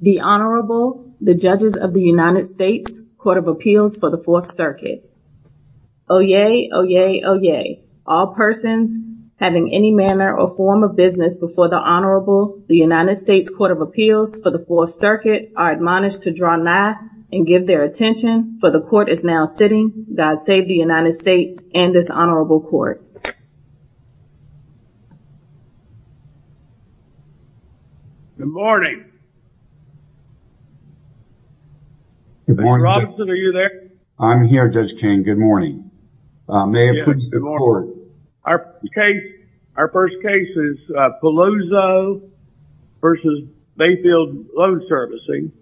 The Honorable, the Judges of the United States Court of Appeals for the Fourth Circuit. Oyez, oyez, oyez. All persons having any manner or form of business before the Honorable, the United States Court of Appeals for the Fourth Circuit are admonished to draw nigh and give their attention for the court is now sitting. God save the United States and this Honorable Court. Good morning. Good morning. Robinson, are you there? I'm here, Judge King. Good morning. May I introduce the court? Our case, our first case is Palozo v. Bayfield Loan Servicing.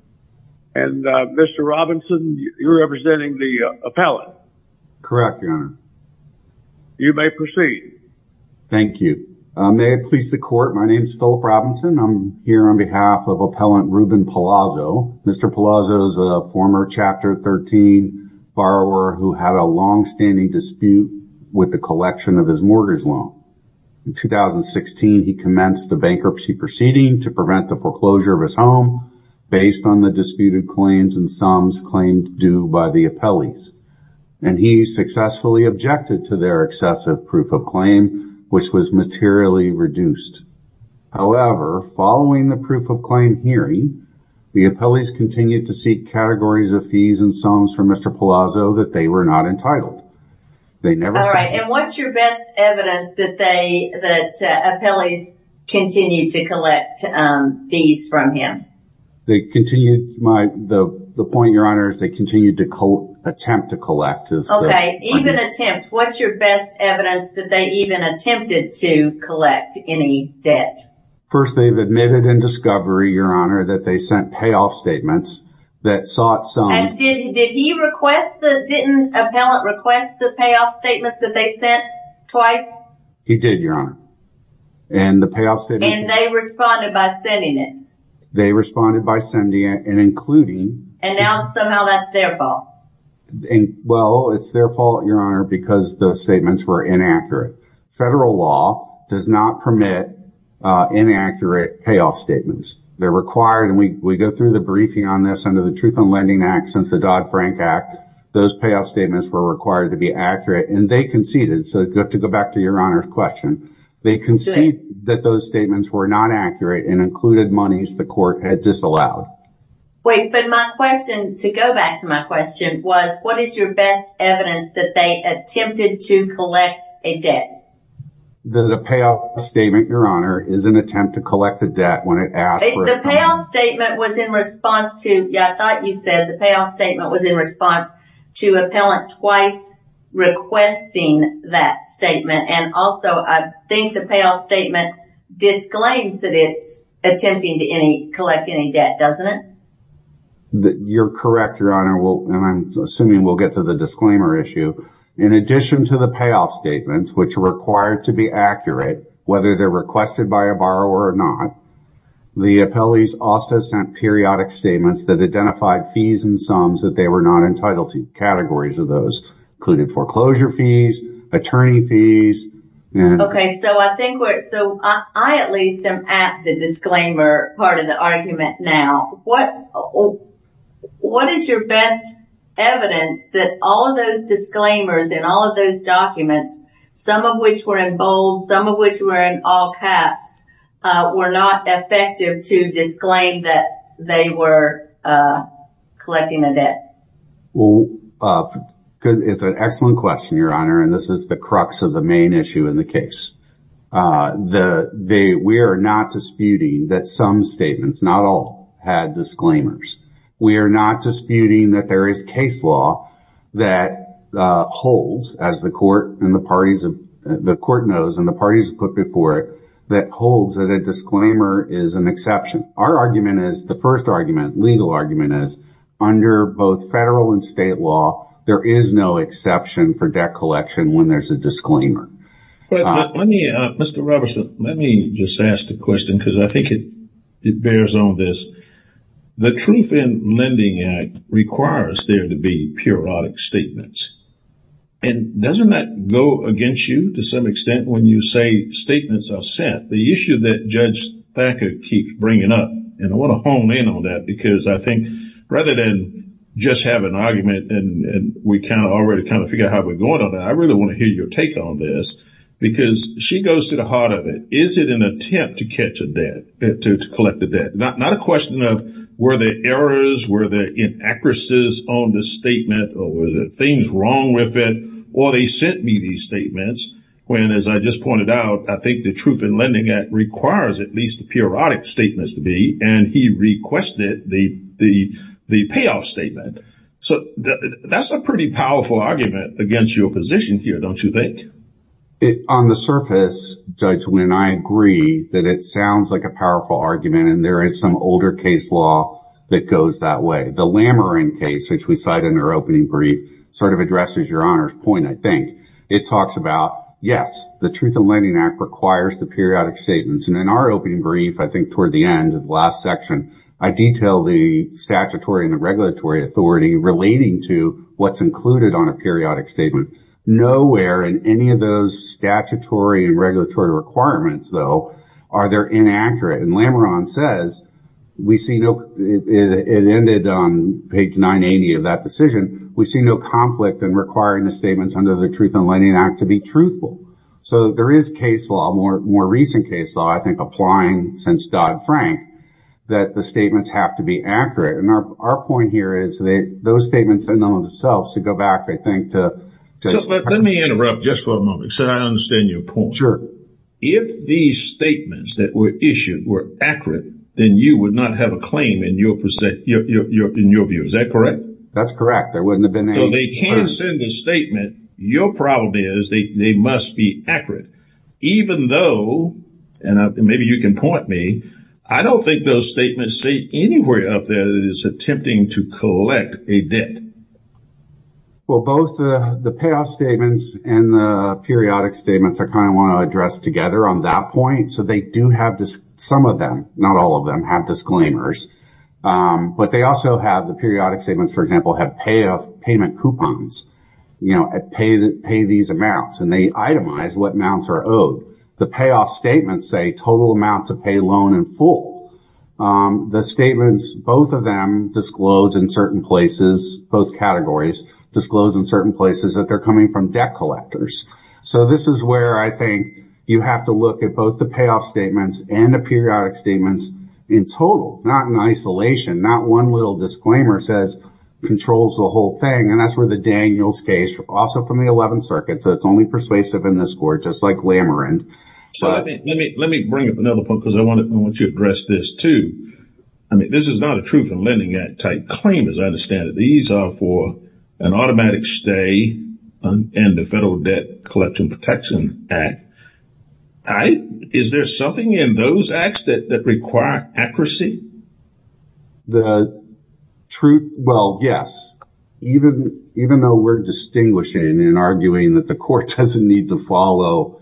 And Mr. Robinson, you're representing the appellate. Correct, Your Honor. You may proceed. Thank you. May I please the court? My name is Philip Robinson. I'm here on behalf of Appellant Ruben Palazzo. Mr. Palazzo is a former Chapter 13 borrower who had a longstanding dispute with the collection of his mortgage loan. In 2016, he commenced the bankruptcy proceeding to prevent the foreclosure of his home based on the disputed claims and sums claimed due by the appellees. And he successfully objected to their excessive proof of claim, which was materially reduced. However, following the proof of claim hearing, the appellees continued to seek categories of fees and sums for Mr. Palazzo that they were not entitled. They never- All right. And what's your best evidence that they, that appellees continue to collect fees from him? They continue, the point, Your Honor, is they continue to attempt to collect. Okay, even attempt. What's your best evidence that they even attempted to collect any debt? First, they've admitted in discovery, Your Honor, that they sent payoff statements that sought some- And did he request the, didn't appellant request the payoff statements that they sent twice? He did, Your Honor. And the payoff statements- And they responded by sending it? They responded by sending it and including- And now somehow that's their fault? Well, it's their fault, Your Honor, because those statements were inaccurate. Federal law does not permit inaccurate payoff statements. They're required, and we go through the briefing on this under the Truth in Lending Act, since the Dodd-Frank Act, those payoff statements were required to be accurate and they conceded. So to go back to Your Honor's question, they conceded that those statements were not accurate and included monies the court had disallowed. Wait, but my question, to go back to my question, was what is your best evidence that they attempted to collect a debt? The payoff statement, Your Honor, is an attempt to collect a debt when it asked for- The payoff statement was in response to, yeah, I thought you said the payoff statement was in to appellant twice requesting that statement. And also, I think the payoff statement disclaims that it's attempting to collect any debt, doesn't it? You're correct, Your Honor, and I'm assuming we'll get to the disclaimer issue. In addition to the payoff statements, which are required to be accurate, whether they're requested by a borrower or not, the appellees also sent periodic statements that identified fees and sums that they were not entitled to, categories of those, including foreclosure fees, attorney fees. Okay, so I think we're, so I at least am at the disclaimer part of the argument now. What is your best evidence that all of those disclaimers and all of those documents, some of which were in bold, some of which were in all caps, were not effective to disclaim that they were collecting a debt? Well, it's an excellent question, Your Honor, and this is the crux of the main issue in the case. We are not disputing that some statements, not all, had disclaimers. We are not disputing that there is case law that holds, as the court and the parties, the court knows and the parties put before it, that holds that a disclaimer is an exception. Our argument is, the first argument, legal argument is, under both federal and state law, there is no exception for debt collection when there's a disclaimer. But let me, Mr. Robertson, let me just ask the question, because I think it bears on this. The Truth in Lending Act requires there to be periodic statements. And doesn't that go against you to some extent when you say statements are sent? The issue that Judge Thacker keeps bringing up, and I want to hone in on that, because I think rather than just have an argument and we kind of already kind of figure out how we're going on, I really want to hear your take on this, because she goes to the heart of it. Is it an attempt to catch a debt, to collect a debt? Not a question of were there errors, were there inaccuracies on the statement, or were there things wrong with it? Or they sent me these statements when, as I just pointed out, I think the Truth in Lending Act requires at least the periodic statements to be, and he requested the payoff statement. So that's a pretty powerful argument against your position here, don't you think? On the surface, Judge, when I agree that it sounds like a powerful argument, and there is some older case law that goes that way, the Lameron case, which we cite in our opening brief, sort of addresses your Honor's point, I think. It talks about, yes, the Truth in Lending Act requires the periodic statements, and in our opening brief, I think toward the end of the last section, I detail the statutory and regulatory authority relating to what's included on a periodic statement. Nowhere in any of those statutory and regulatory requirements, though, are there inaccurate, and Lameron says, we see no, it ended on page 980 of that decision, we see no conflict in requiring the statements under the Truth in Lending Act to be truthful. So there is case law, more recent case law, I think, applying since Dodd-Frank, that the statements have to be accurate, and our point here is that those statements in and of themselves, to go back, I think, to... Let me interrupt just for a moment, so I understand your point. Sure. If these statements that were issued were accurate, then you would not have a claim in your view, is that correct? That's correct, there wouldn't have been any... So they can send a statement, your problem is they must be accurate, even though, and maybe you can point me, I don't think those statements say anywhere up there that it's attempting to collect a debt. Well, both the payoff statements and the periodic statements, I kind of want to address together on that point. So they do have... Some of them, not all of them, have disclaimers, but they also have the periodic statements, for example, have payoff payment coupons, pay these amounts, and they itemize what amounts are owed. The payoff statements say total amounts of pay, loan, and full. The statements, both of them disclose in certain places, both categories, disclose in certain places that they're coming from debt collectors. So this is where I think you have to look at both the payoff statements and the periodic statements in total, not in isolation. Not one little disclaimer says controls the whole thing, and that's where the Daniels case, also from the 11th Circuit, so it's only persuasive in this court, just like Lamerin. So let me bring up another point, because I want you to address this too. I mean, this is not a Truth in Lending Act type claim, as I understand it. These are for an automatic stay and the Federal Debt Collection Protection Act type. Is there something in those acts that require accuracy? The truth... Well, yes. Even though we're distinguishing and arguing that the court doesn't need to follow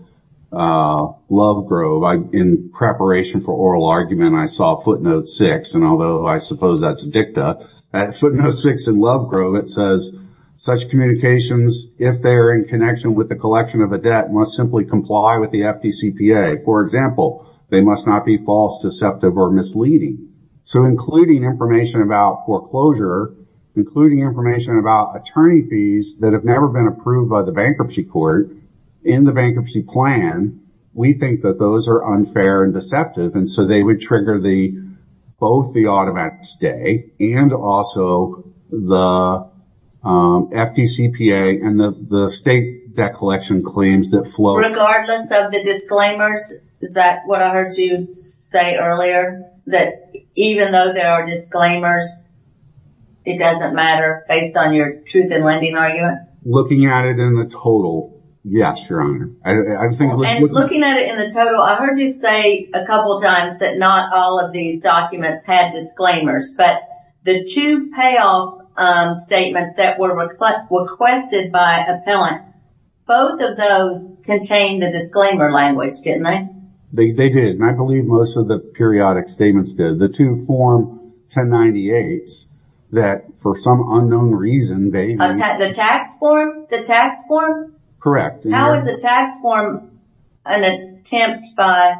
Lovegrove, in preparation for oral argument, I saw footnote six, and although I suppose that's dicta, at footnote six in Lovegrove, it says, such communications, if they're in connection with the collection of a debt, must simply comply with the FDCPA. For example, they must not be false, deceptive, or misleading. So including information about foreclosure, including information about attorney fees that have never been approved by the bankruptcy court in the bankruptcy plan, we think that those are unfair and deceptive, so they would trigger both the automatic stay and also the FDCPA and the state debt collection claims that flow... Regardless of the disclaimers? Is that what I heard you say earlier? That even though there are disclaimers, it doesn't matter based on your truth in lending argument? Looking at it in the total, yes, Your Honor. And looking at it in the total, I heard you say a couple of times that not all of these documents had disclaimers, but the two payoff statements that were requested by appellant, both of those contained the disclaimer language, didn't they? They did, and I believe most of the periodic statements did. The two form 1098s that, for some unknown reason, they... The tax form? The tax form? Correct. How is a tax form an attempt by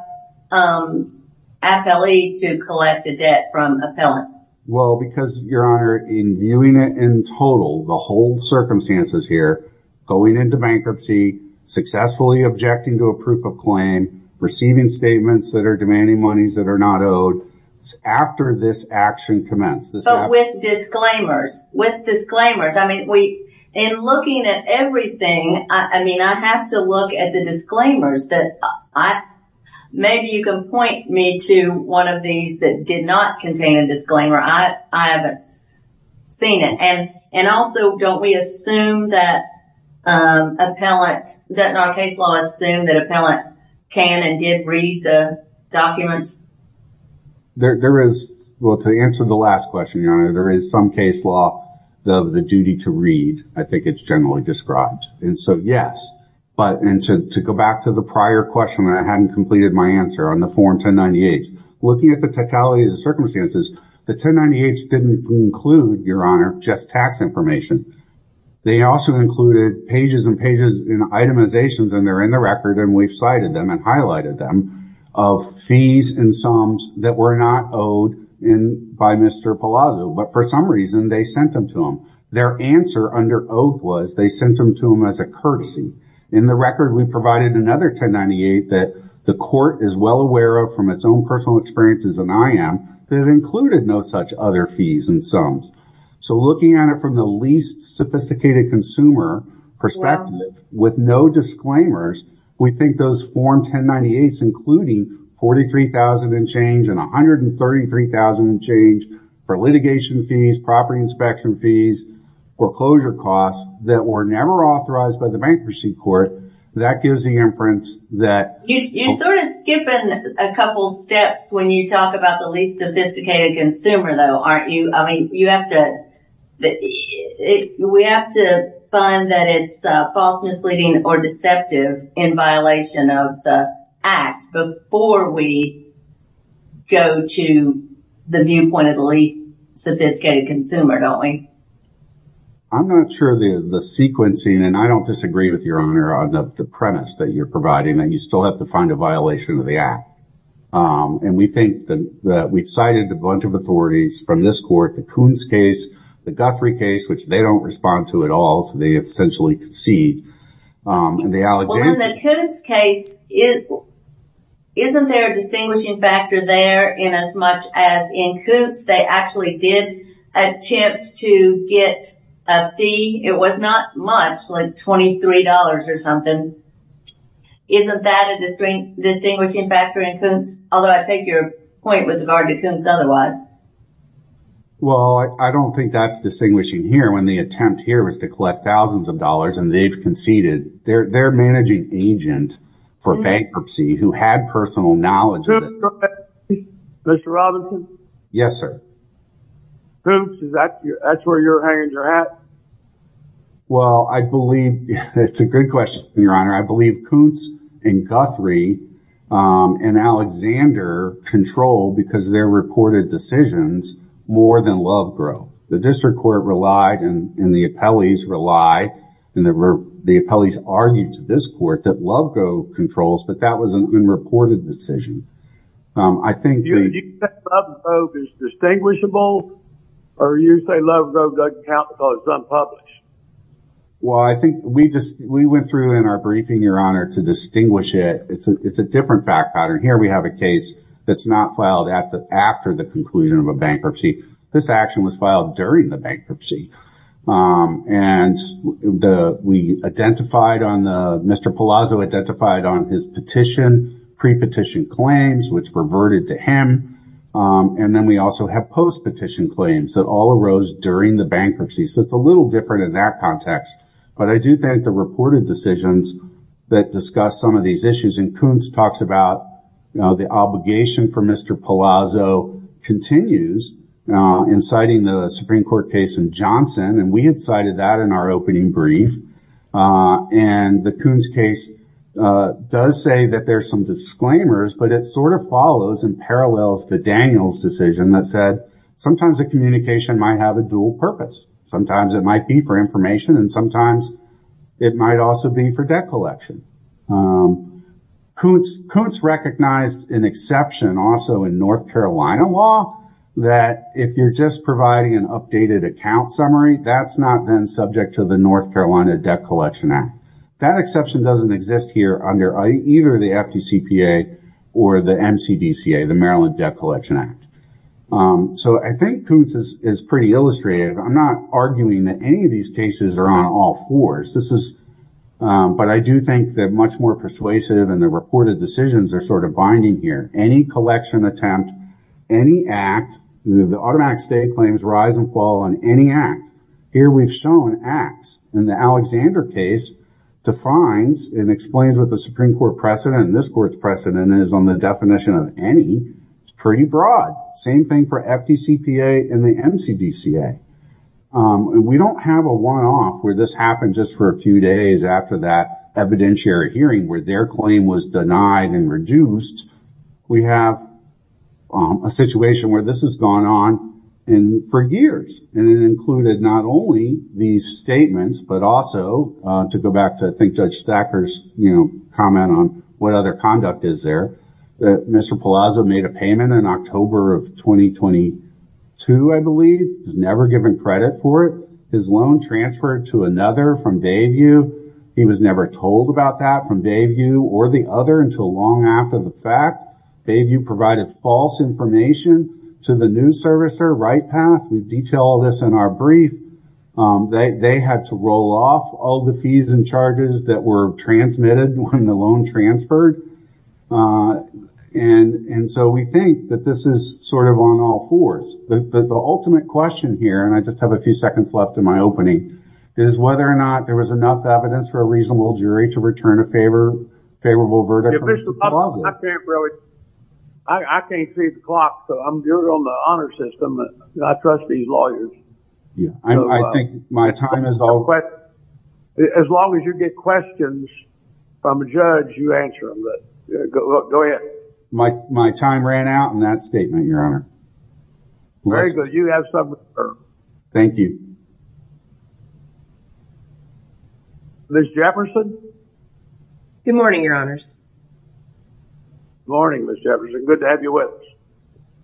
appellee to collect a debt from appellant? Well, because, Your Honor, in viewing it in total, the whole circumstances here, going into bankruptcy, successfully objecting to a proof of claim, receiving statements that are demanding monies that are not owed, after this action commenced... But with disclaimers, with disclaimers. In looking at everything, I mean, I have to look at the disclaimers that... Maybe you can point me to one of these that did not contain a disclaimer. I haven't seen it. And also, don't we assume that appellant... That in our case law, assume that appellant can and did read the documents? There is... Well, to answer the last question, Your Honor, there is some case law of the duty to read. I think it's generally described. And so, yes. But to go back to the prior question, I hadn't completed my answer on the form 1098s. Looking at the totality of the circumstances, the 1098s didn't include, Your Honor, just tax information. They also included pages and pages and itemizations, and they're in the record, and we've cited them and highlighted them, of fees and sums that were not owed by Mr. Palazzo. But for some reason, they sent them to him. Their answer under oath was they sent them to him as a courtesy. In the record, we provided another 1098 that the court is well aware of from its own personal experiences and I am, that included no such other fees and sums. So looking at it from the least sophisticated consumer perspective, with no disclaimers, we think those form 1098s, including $43,000 and change and $133,000 and change for litigation fees, property inspection fees, foreclosure costs that were never authorized by the bankruptcy court, that gives the inference that... You're sort of skipping a couple steps when you talk about the least sophisticated consumer, though, aren't you? I mean, you have to... We have to find that it's false, misleading, or deceptive in violation of the Act before we go to the viewpoint of the least sophisticated consumer, don't we? I'm not sure the sequencing... And I don't disagree with your honor on the premise that you're providing that you still have to find a violation of the Act. And we think that we've cited a bunch of authorities from this court, the Coons case, the Guthrie case, which they don't respond to at all, so they essentially concede. In the Coons case, isn't there a distinguishing factor there in as much as in Coons they actually did attempt to get a fee? It was not much, like $23 or something. Isn't that a distinguishing factor in Coons? Although I take your point with regard to Coons otherwise. Well, I don't think that's distinguishing here when the attempt here was to collect thousands of dollars and they've conceded. They're managing agent for bankruptcy who had personal knowledge. Mr. Robinson? Yes, sir. Coons, that's where you're hanging your hat? Well, I believe it's a good question, your honor. I believe Coons and Guthrie and Alexander control because their reported decisions more than Lovegrove. The district court relied, and the appellees relied, and the appellees argued to this court that Lovegrove controls, but that was an unreported decision. Do you think Lovegrove is distinguishable, or you say Lovegrove doesn't count because it's unpublished? Well, I think we went through in our briefing, your honor, to distinguish it. It's a different fact pattern. Here we have a case that's not filed after the conclusion of a bankruptcy. This action was filed during the bankruptcy, and Mr. Palazzo identified on his petition, pre-petition claims, which reverted to him, and then we also have post-petition claims that all arose during the bankruptcy. So it's a little different in that context, but I do think the reported decisions that discuss some of these issues, and Coons talks about the obligation for Mr. Palazzo continues, inciting the Supreme Court case in Johnson, and we incited that in our opening brief, and the Coons case does say that there's some disclaimers, but it sort of follows and parallels the Daniels decision that said, sometimes the communication might have a dual purpose. Sometimes it might be for information, and sometimes it might also be for debt collection. Coons recognized an exception also in North Carolina law that if you're just providing an updated account summary, that's not then subject to the North Carolina Debt Collection Act. That exception doesn't exist here under either the FDCPA or the MCDCA, the Maryland Debt Collection Act. So I think Coons is pretty illustrative. I'm not arguing that any of these cases are on all fours, but I do think they're much more persuasive, and the reported decisions are sort of binding here. Any collection attempt, any act, the automatic stay claims rise and fall on any act. Here we've shown acts, and the Alexander case defines and explains what the Supreme Court precedent, and this court's precedent is on the definition of any. It's pretty broad. Same thing for FDCPA and the MCDCA. We don't have a one-off where this happened just for a few days after that evidentiary hearing where their claim was denied and reduced. We have a situation where this has gone on for years, and it included not only these statements, but also, to go back to I think Judge Thacker's comment on what other conduct is there, Mr. Palazzo made a payment in October of 2022, I believe. He's never given credit for it. His loan transferred to another from Bayview. He was never told about that from Bayview or the other until long after the fact. Bayview provided false information to the new servicer, Right Path. We detail this in our brief. They had to roll off all the fees and charges that were transmitted when the loan transferred, and so we think that this is sort of on all fours. But the ultimate question here, and I just have a few seconds left in my opening, is whether or not there was enough evidence for a reasonable jury to return a favorable verdict. Mr. Palazzo, I can't see the clock, so you're on the honor system. I trust these lawyers. As long as you get questions from a judge, you answer them. Go ahead. My time ran out in that statement, Your Honor. Very good. You have some reserve. Thank you. Ms. Jefferson? Good morning, Your Honors. Good morning, Ms. Jefferson. Good to have you with us.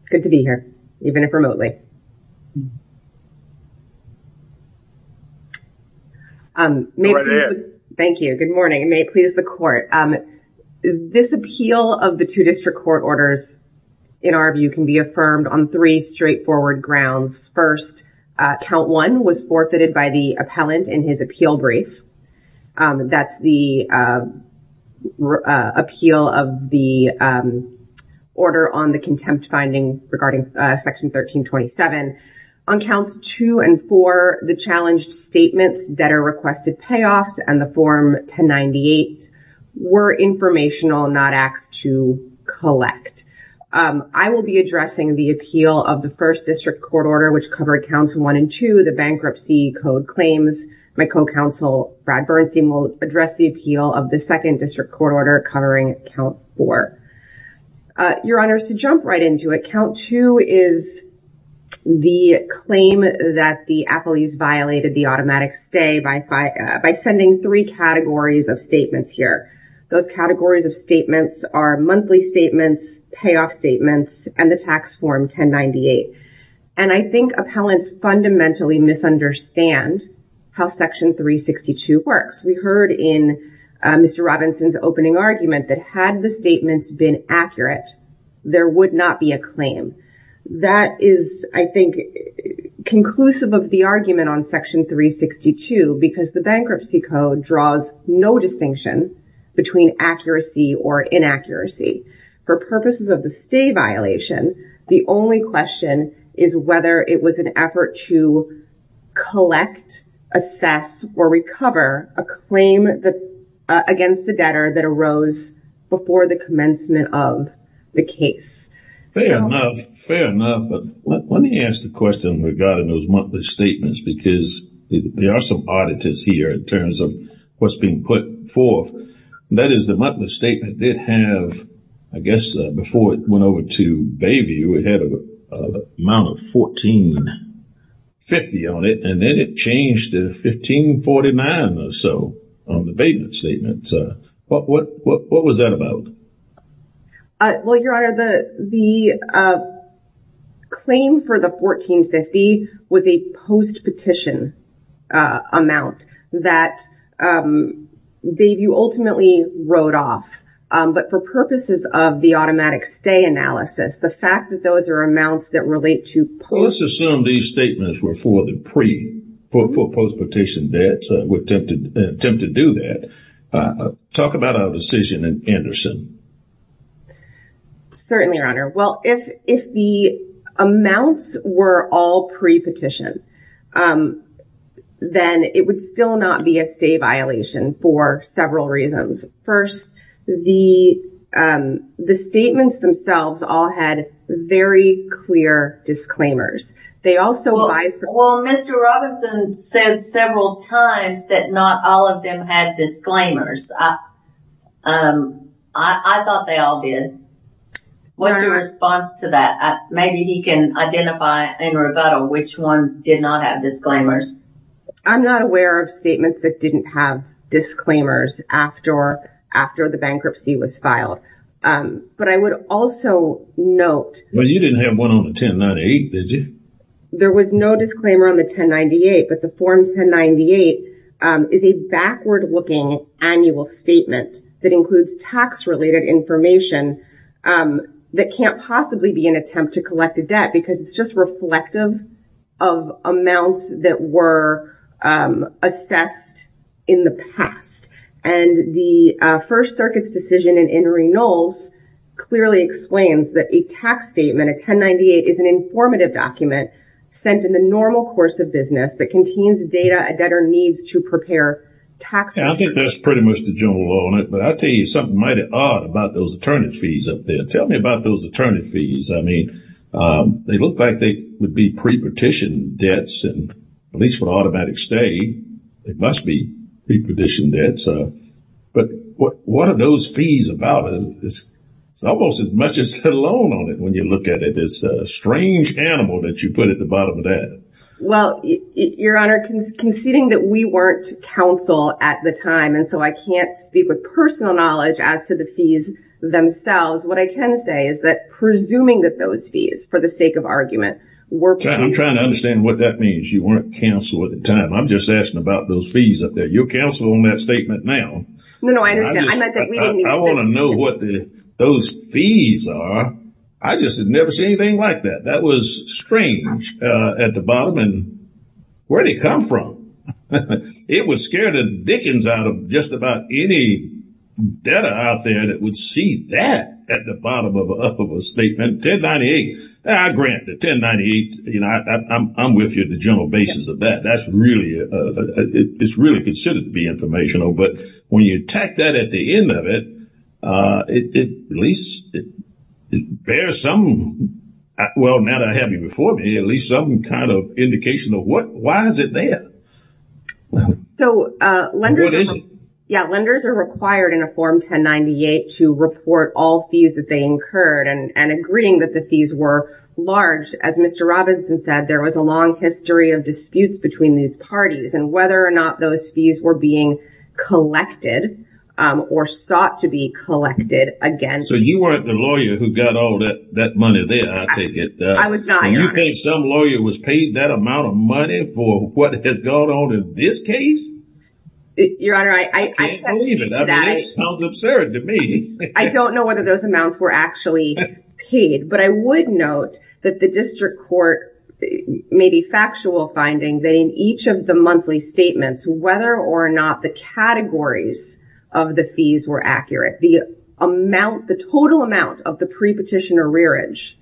Good to be here, even if remotely. Go right ahead. Thank you. Good morning. May it please the court. This appeal of the two district court orders, in our view, can be affirmed on three straightforward grounds. First, count one was forfeited by the appellant in his appeal brief. That's the appeal of the order on the contempt finding regarding section 1327. On counts two and four, the challenged statements that are requested payoffs and the form 1098 were informational, not acts to collect. I will be addressing the appeal of the first district court order, which covered counts one and two, the bankruptcy code claims. My co-counsel, Brad Bernstein, will address the appeal of the second district court order covering count four. Your Honors, to jump right into it, count two is the claim that the appellees violated the automatic stay by sending three categories of statements here. Those categories of statements are monthly statements, payoff statements, and the tax form 1098. And I think appellants fundamentally misunderstand how section 362 works. We heard in Mr. Robinson's opening argument that had the statements been accurate, there would not be a claim. That is, I think, conclusive of the argument on section 362 because the bankruptcy code draws no distinction between accuracy or inaccuracy. For purposes of the stay violation, the only question is whether it was an effort to collect, assess, or recover a claim against the debtor that arose before the commencement of the case. Fair enough, fair enough. But let me ask the question regarding those monthly statements because there are some auditors here in terms of what's being put forth. That is, the monthly statement did have, I guess, before it went over to Bayview, it had an amount of $1,450 on it, and then it changed to $1,549 or so on the payment statement. What was that about? Well, Your Honor, the claim for the $1,450 was a post-petition amount that Bayview ultimately wrote off. But for purposes of the automatic stay analysis, the fact that those are amounts that relate to post... Let's assume these statements were for the pre-, for post-petition debts were attempted to do that. Talk about our decision in Anderson. Certainly, Your Honor. Well, if the amounts were all pre-petition, then it would still not be a stay violation for several reasons. First, the statements themselves all had very clear disclaimers. They also... Well, Mr. Robinson said several times that not all of them had disclaimers. I thought they all did. What's your response to that? Maybe he can identify in rebuttal which ones did not have disclaimers. I'm not aware of statements that didn't have disclaimers after the bankruptcy was filed. But I would also note... Well, you didn't have one on the 1098, did you? There was no disclaimer on the 1098, but the Form 1098 is a backward-looking annual statement that includes tax-related information that can't possibly be an attempt to collect a debt because it's just reflective of amounts that were assessed in the past. The First Circuit's decision in Reynolds clearly explains that a tax statement, a 1098, is an informative document sent in the normal course of business that contains data a debtor needs to prepare tax returns. I think that's pretty much the general law on it, but I'll tell you something mighty odd about those attorney fees up there. Tell me about those attorney fees. They look like they would be pre-petition debts, and at least for the automatic stay, they must be pre-petition debts. But what are those fees about? It's almost as much as a loan on it when you look at it. It's a strange animal that you put at the bottom of that. Well, Your Honor, conceding that we weren't counsel at the time and so I can't speak with personal knowledge as to the fees themselves, what I can say is that presuming that those fees, for the sake of argument, were... I'm trying to understand what that means. You weren't counsel at the time. I'm just asking about those fees up there. You're counsel on that statement now. No, no, I understand. I want to know what those fees are. I just had never seen anything like that. That was strange at the bottom. And where did it come from? It would scare the dickens out of just about any debtor out there that would see that at the bottom of a statement. 1098, I grant the 1098. You know, I'm with you at the general basis of that. That's really... It's really considered to be informational, but when you attack that at the end of it, it at least bears some... Well, now that I have you before me, at least some kind of indication of why is it there? So, lenders are required in a Form 1098 to report all fees that they incurred and agreeing that the fees were large. As Mr. Robinson said, there was a long history of disputes between these parties and whether or not those fees were being collected or sought to be collected again. So, you weren't the lawyer who got all that money there, I take it? I was not, Your Honor. You think some lawyer was paid that amount of money for what has gone on in this case? Your Honor, I can't believe it. I mean, that sounds absurd to me. I don't know whether those amounts were actually paid, but I would note that the district court, maybe factual finding, in each of the monthly statements, whether or not the categories of the fees were accurate, the total amount of the pre-petitioner rearage,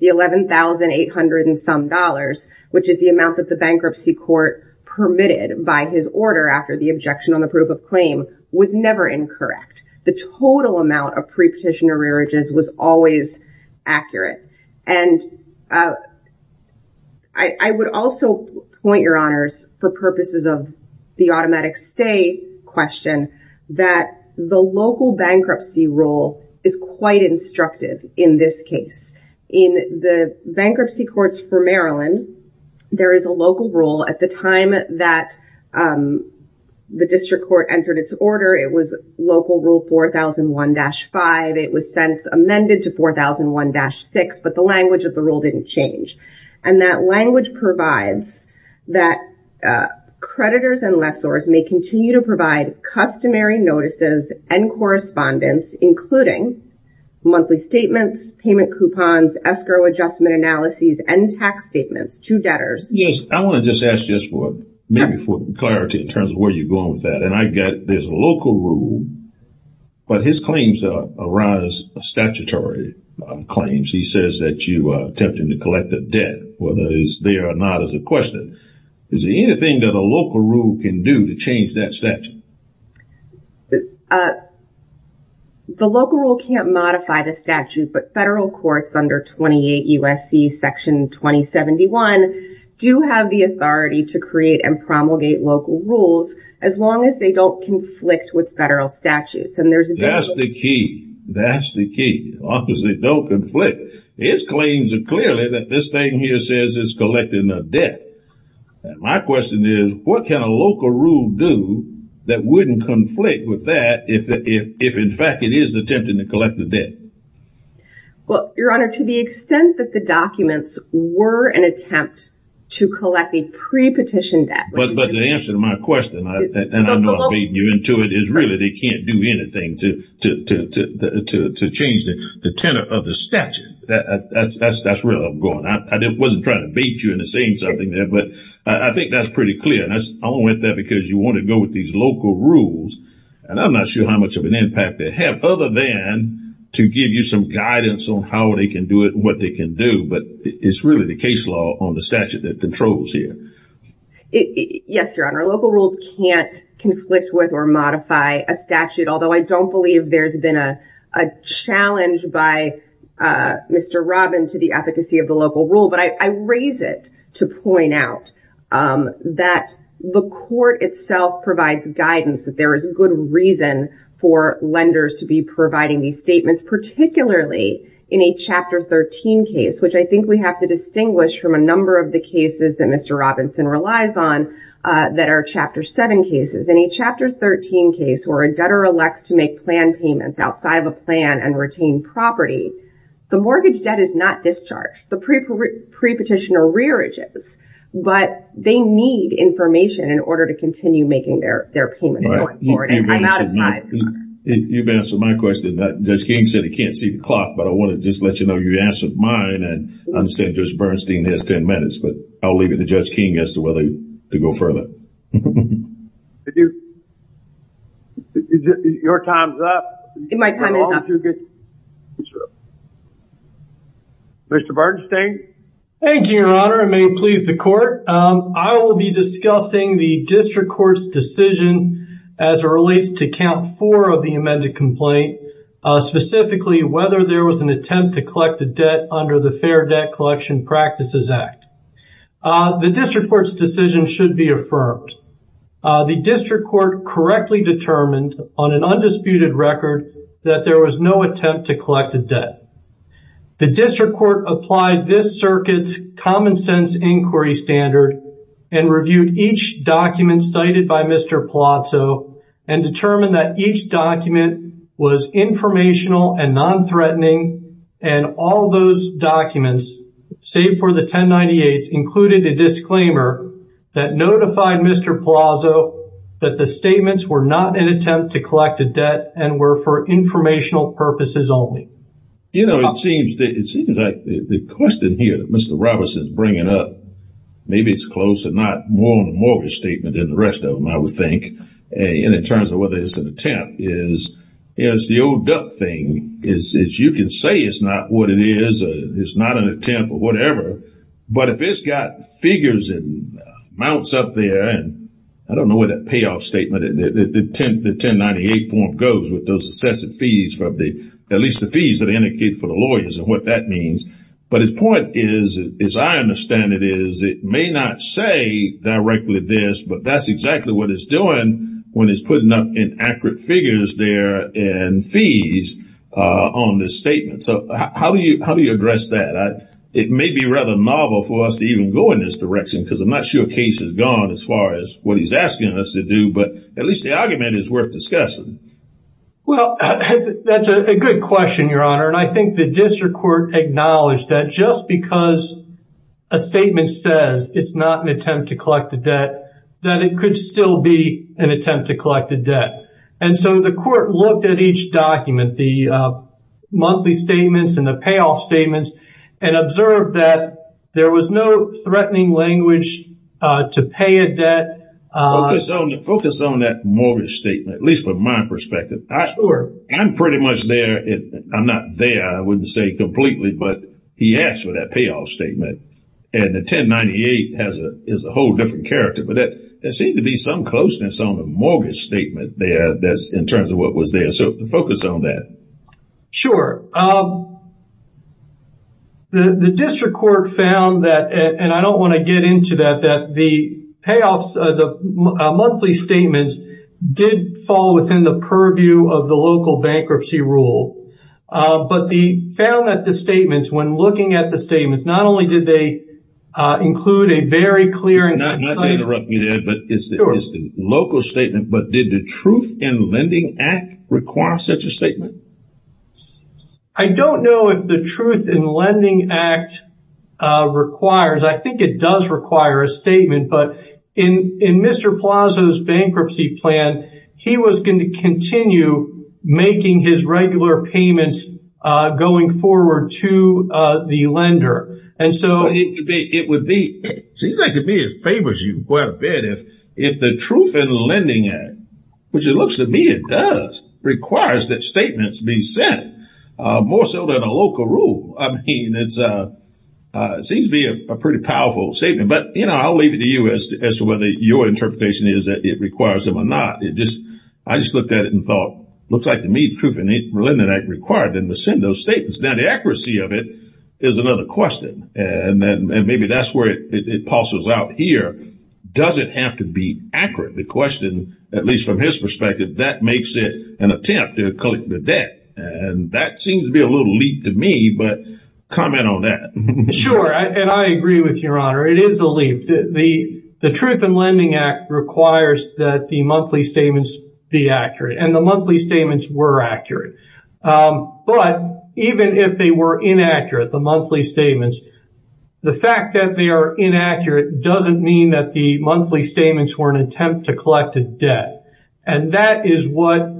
the $11,800 and some dollars, which is the amount that the bankruptcy court permitted by his order after the objection on the proof of claim, was never incorrect. The total amount of pre-petitioner rearages was always accurate. And I would also point, Your Honors, for purposes of the automatic stay question, that the local bankruptcy rule is quite instructive in this case. In the bankruptcy courts for Maryland, there is a local rule at the time that the district court entered its order. It was local rule 4001-5. It was since amended to 4001-6, but the language of the rule didn't change. And that language provides that creditors and lessors may continue to provide customary notices and correspondence, including monthly statements, payment coupons, escrow adjustment analyses, and tax statements to debtors. Yes, I want to just ask just for, maybe for clarity in terms of where you're going with that. And I get there's a local rule, but his claims arise statutory claims. He says that you are attempting to collect a debt, whether it is there or not is a question. Is there anything that a local rule can do to change that statute? The local rule can't modify the statute, but federal courts under 28 U.S.C. Section 2071 do have the authority to create and promulgate local rules as long as they don't conflict with federal statutes. And there's a- That's the key. That's the key. As long as they don't conflict. His claims are clearly that this thing here says it's collecting a debt. My question is, what can a local rule do that wouldn't conflict with that if in fact it is attempting to collect a debt? Well, Your Honor, to the extent that the documents were an attempt to collect a pre-petition debt- But the answer to my question, and I know I'm beating you into it, is really they can't do anything to change that. The tenor of the statute, that's where I'm going. I wasn't trying to beat you into saying something there, but I think that's pretty clear. And I only went there because you want to go with these local rules, and I'm not sure how much of an impact they have, other than to give you some guidance on how they can do it and what they can do. But it's really the case law on the statute that controls here. Yes, Your Honor, local rules can't conflict with or modify a statute, although I don't believe there's been a challenge by Mr. Robin to the efficacy of the local rule. But I raise it to point out that the court itself provides guidance that there is good reason for lenders to be providing these statements, particularly in a Chapter 13 case, which I think we have to distinguish from a number of the cases that Mr. Robinson relies on that are Chapter 7 cases. In a Chapter 13 case, where a debtor elects to make plan payments outside of a plan and retain property, the mortgage debt is not discharged. The pre-petitioner rearages, but they need information in order to continue making their payments going forward. And I'm not a client. You've answered my question. Judge King said he can't see the clock, but I want to just let you know you answered mine and I understand Judge Bernstein has 10 minutes, but I'll leave it to Judge King as to whether to go further. Your time's up. My time is up. Mr. Bernstein. Thank you, Your Honor. It may please the court. I will be discussing the district court's decision as it relates to count four of the amended complaint, specifically whether there was an attempt to collect the debt under the Fair Debt Collection Practices Act. The district court's decision should be affirmed. The district court correctly determined on an undisputed record that there was no attempt to collect the debt. The district court applied this circuit's common sense inquiry standard and reviewed each document cited by Mr. Palazzo and determined that each document was informational and non-threatening. And all those documents, save for the 1098s, included a disclaimer that notified Mr. Palazzo that the statements were not an attempt to collect a debt and were for informational purposes only. You know, it seems like the question here that Mr. Robertson is bringing up, maybe it's close and not more on the mortgage statement than the rest of them, I would think, in terms of whether it's an attempt, is it's the old debt thing. You can say it's not what it is, it's not an attempt or whatever, but if it's got figures and amounts up there, and I don't know what that payoff statement, the 1098 form goes with those excessive fees for at least the fees that are indicated for the lawyers and what that means. But his point is, as I understand it, is it may not say directly this, but that's exactly what it's doing when it's putting up inaccurate figures there and fees on this statement. So how do you address that? It may be rather novel for us to even go in this direction because I'm not sure case has gone as far as what he's asking us to do, but at least the argument is worth discussing. Well, that's a good question, Your Honor. And I think the district court acknowledged that just because a statement says it's not an attempt to collect the debt, that it could still be an attempt to collect the debt. And so the court looked at each document, the monthly statements and the payoff statements, and observed that there was no threatening language to pay a debt. Focus on that mortgage statement, at least from my perspective. I'm pretty much there. I'm not there, I wouldn't say completely, but he asked for that payoff statement. And the 1098 is a whole different character, but there seems to be some closeness on the mortgage statement there that's in terms of what was there. So focus on that. Sure. The district court found that, and I don't want to get into that, that the payoffs, the monthly statements did fall within the purview of the local bankruptcy rule. But they found that the statements, when looking at the statements, not only did they include a very clear and concise- Not to interrupt you there, but it's the local statement, but did the Truth in Lending Act require such a statement? I don't know if the Truth in Lending Act requires, I think it does require a statement, but in Mr. Plazo's bankruptcy plan, he was going to continue making his regular payments going forward to the lender. And so- It would be, it seems like to me it favors you quite a bit if the Truth in Lending Act, which it looks to me it does, requires that statement be sent. More so than a local rule. I mean, it seems to be a pretty powerful statement. But I'll leave it to you as to whether your interpretation is that it requires them or not. I just looked at it and thought, looks like to me the Truth in Lending Act required them to send those statements. Now the accuracy of it is another question. And maybe that's where it pulses out here. Does it have to be accurate? The question, at least from his perspective, that makes it an attempt to collect the debt. And that seems to be a little leap to me, but comment on that. Sure. And I agree with your honor. It is a leap. The Truth in Lending Act requires that the monthly statements be accurate and the monthly statements were accurate. But even if they were inaccurate, the monthly statements, the fact that they are inaccurate doesn't mean that the monthly statements were an attempt to collect a debt. And that is what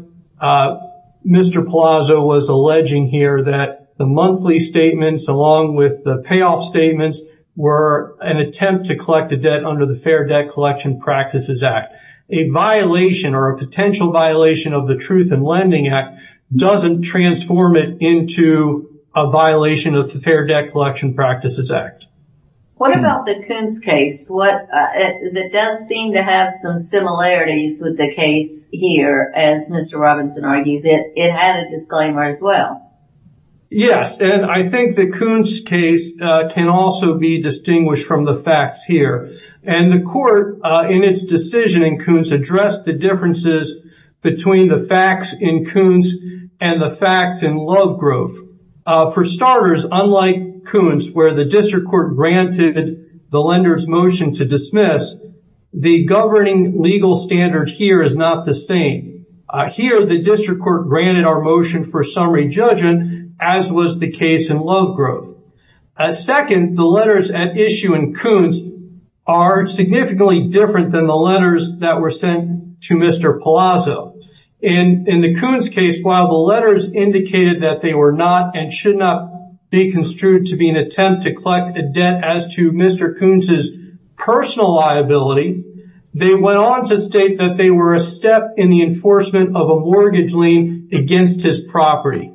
Mr. Palazzo was alleging here, that the monthly statements along with the payoff statements were an attempt to collect a debt under the Fair Debt Collection Practices Act. A violation or a potential violation of the Truth in Lending Act doesn't transform it into a violation of the Fair Debt Collection Practices Act. What about the Coons case? That does seem to have some similarities with the case here, as Mr. Robinson argues it. It had a disclaimer as well. Yes. And I think the Coons case can also be distinguished from the facts here. And the court in its decision in Coons addressed the differences between the facts in Coons and the facts in Lovegrove. For starters, unlike Coons, where the district court granted the lender's motion to dismiss, the governing legal standard here is not the same. Here, the district court granted our motion for summary judgment, as was the case in Lovegrove. Second, the letters at issue in Coons are significantly different than the letters that were sent to Mr. Palazzo. And in the Coons case, while the letters indicated that they were not and should not be construed to be an attempt to collect a debt as to Mr. Coons' personal liability, they went on to state that they were a step in the enforcement of a mortgage lien against his property.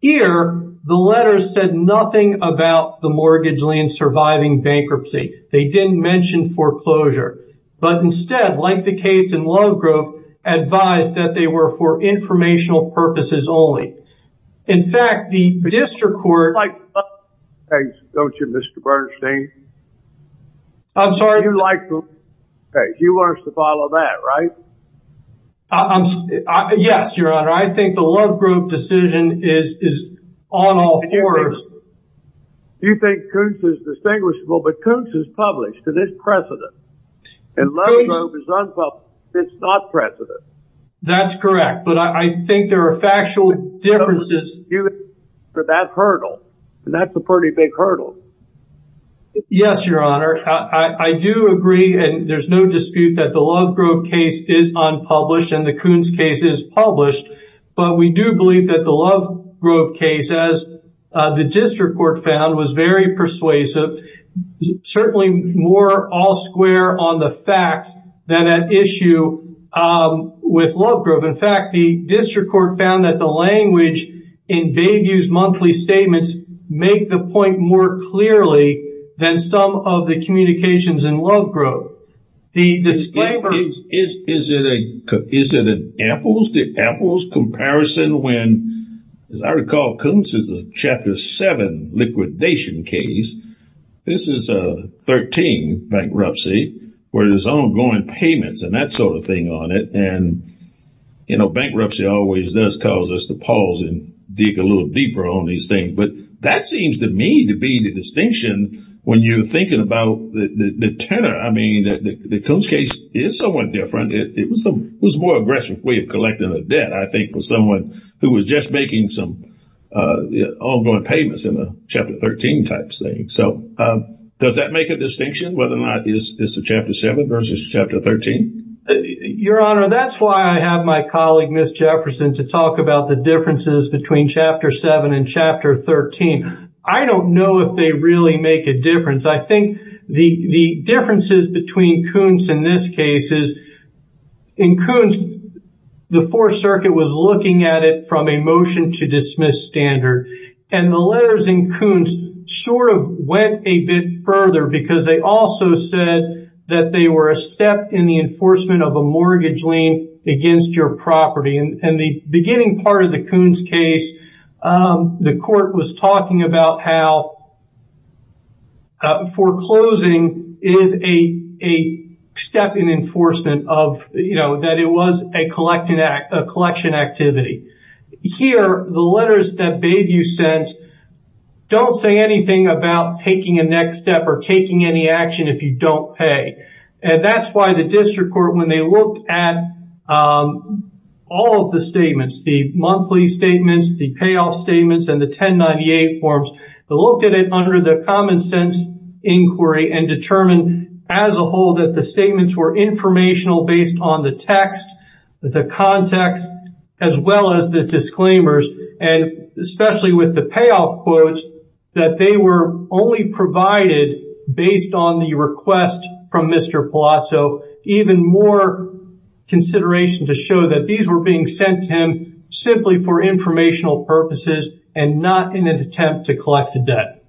Here, the letters said nothing about the mortgage lien surviving bankruptcy. They didn't mention foreclosure. But instead, like the case in Lovegrove, advised that they were for informational purposes only. In fact, the district court... Don't you, Mr. Bernstein? I'm sorry. You like the Lovegrove case. You want us to follow that, right? Yes, Your Honor. I think the Lovegrove decision is on all fours. Do you think Coons is distinguishable? But Coons is published, and it's precedent. And Lovegrove is unpublished. It's not precedent. That's correct. But I think there are factual differences. But that hurdle, and that's a pretty big hurdle. Yes, Your Honor. I do agree. And there's no dispute that the Lovegrove case is unpublished and the Coons case is published. But we do believe that the Lovegrove case, as the district court found, was very persuasive. Certainly more all square on the facts than an issue with Lovegrove. In fact, the district court found that the language in Begue's monthly statements make the point more clearly than some of the communications in Lovegrove. The disclaimer... Is it an apples to apples comparison when, as I recall, Coons is a Chapter 7 liquidation case. This is a 13 bankruptcy where there's ongoing payments and that sort of thing on it. And bankruptcy always does cause us to pause and dig a little deeper on these things. But that seems to me to be the distinction when you're thinking about the tenor. I mean, the Coons case is somewhat different. It was a more aggressive way of collecting a debt, I think, for someone who was just making some ongoing payments in a Chapter 13 type thing. So does that make a distinction whether or not it's a Chapter 7 versus Chapter 13? Your Honor, that's why I have my colleague, Ms. Jefferson, to talk about the differences between Chapter 7 and Chapter 13. I don't know if they really make a difference. I think the differences between Coons in this case is... In Coons, the Fourth Circuit was looking at it from a motion-to-dismiss standard. And the letters in Coons sort of went a bit further because they also said that they were a step in the enforcement of a mortgage lien against your property. In the beginning part of the Coons case, the Court was talking about how foreclosing is a step in enforcement of, you know, that it was a collection activity. Here, the letters that Bayview sent don't say anything about taking a next step or taking any action if you don't pay. And that's why the District Court, when they looked at all of the statements, the monthly statements, the payoff statements, and the 1098 forms, they looked at it under the common-sense inquiry and determined as a whole that the statements were informational based on the text, the context, as well as the disclaimers. And especially with the payoff quotes, that they were only provided based on the request from Mr. Palazzo, even more consideration to show that these were being sent to him simply for informational purposes and not in an attempt to collect a debt.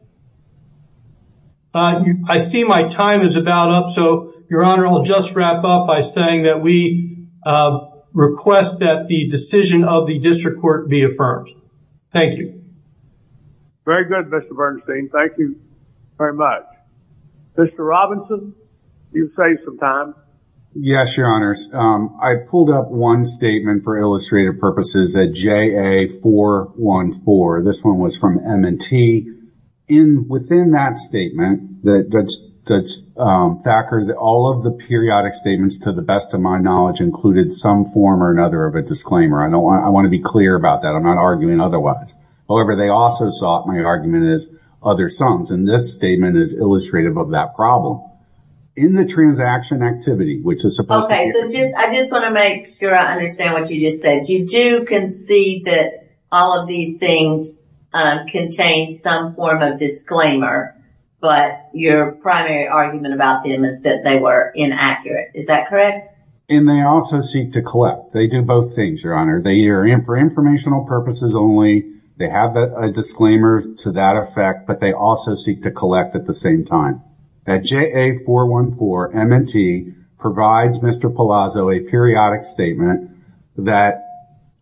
I see my time is about up, so, Your Honor, I'll just wrap up by saying that we request that the decision of the District Court be affirmed. Thank you. Very good, Mr. Bernstein. Thank you very much. Mr. Robinson, do you have some time? Yes, Your Honors. I pulled up one statement for illustrative purposes at JA-414. This one was from M&T. Within that statement, all of the periodic statements, to the best of my knowledge, included some form or another of a disclaimer. I want to be clear about that. I'm not arguing otherwise. However, they also saw my argument as other sums, and this statement is illustrative of that problem. In the transaction activity, which is supposed to be... Okay, so I just want to make sure I understand what you just said. You do concede that all of these things contain some form of disclaimer, but your primary argument about them is that they were inaccurate. Is that correct? And they also seek to collect. They do both things, Your Honor. They are for informational purposes only. They have a disclaimer to that effect, but they also seek to collect at the same time. At JA-414, M&T provides Mr. Palazzo a periodic statement that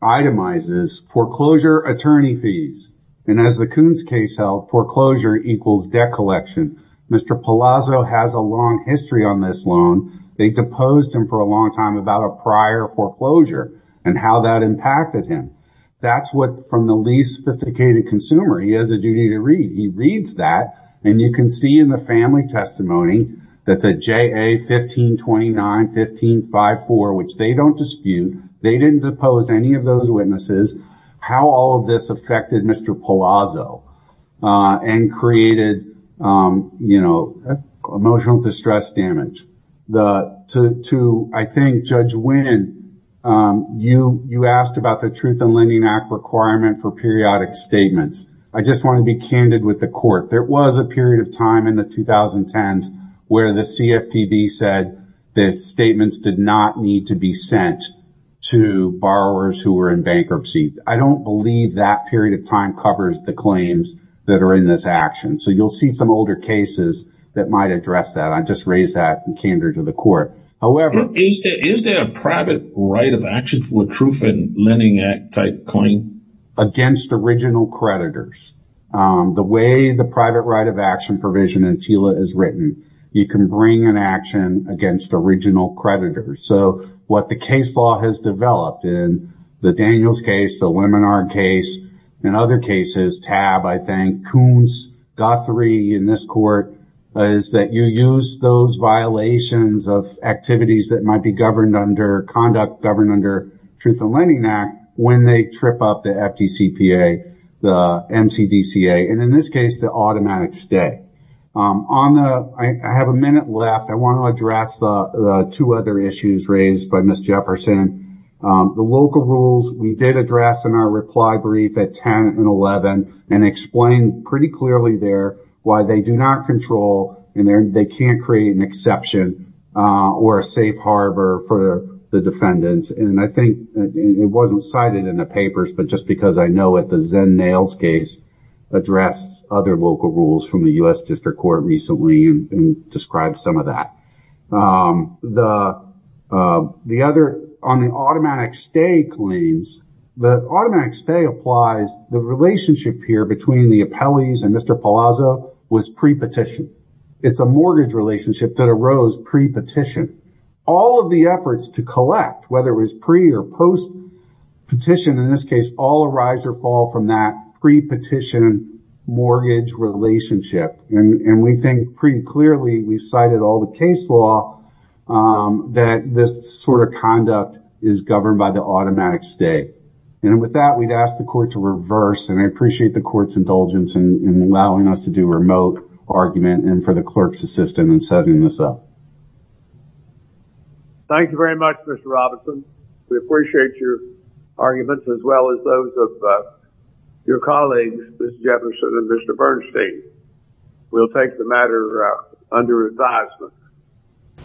itemizes foreclosure attorney fees. And as the Coons case held, foreclosure equals debt collection. Mr. Palazzo has a long history on this loan. They deposed him for a long time about a prior foreclosure and how that impacted him. That's what, from the least sophisticated consumer, he has a duty to read. He reads that, and you can see in the family testimony that's at JA-1529-1554, which they don't dispute. They didn't depose any of those witnesses. How all of this affected Mr. Palazzo and created, you know, emotional distress damage. To, I think, Judge Winnan, you asked about the Truth in Lending Act requirement for periodic statements. I just want to be candid with the court. There was a period of time in the 2010s where the CFPB said that statements did not need to be sent to borrowers who were in bankruptcy. I don't believe that period of time covers the claims that are in this action. So you'll see some older cases that might address that. I just raised that in candor to the court. Is there a private right of action for a Truth in Lending Act type claim? Against original creditors. The way the private right of action provision in TILA is written, you can bring an action against original creditors. So what the case law has developed in the Daniels case, the Lemonard case, and other cases, TAB, I think, Coons, Guthrie, in this court, is that you use those violations of activities that might be governed under conduct governed under Truth in Lending Act when they trip up the FDCPA, the MCDCA, and in this case, the automatic stay. I have a minute left. I want to address the two other issues raised by Ms. Jefferson. The local rules, we did address in our reply brief at 10 and 11, and explained pretty clearly there why they do not control and they can't create an exception or a safe harbor for the defendants. And I think it wasn't cited in the papers, but just because I know at the Zen Nails case, addressed other local rules from the U.S. District Court recently and described some of that. The other, on the automatic stay claims, the automatic stay applies, the relationship here between the appellees and Mr. Palazzo was pre-petition. It's a mortgage relationship that arose pre-petition. All of the efforts to collect, whether it was pre or post petition, in this case, all arise or fall from that pre-petition mortgage relationship. And we think pretty clearly we've cited all the case law that this sort of conduct is governed by the automatic stay. And with that, we'd ask the court to reverse, and I appreciate the court's indulgence in allowing us to do remote argument and for the clerk's assistance in setting this up. Thank you very much, Mr. Robinson. We appreciate your argument. As well as those of your colleagues, Mr. Jefferson and Mr. Bernstein. We'll take the matter under advisement.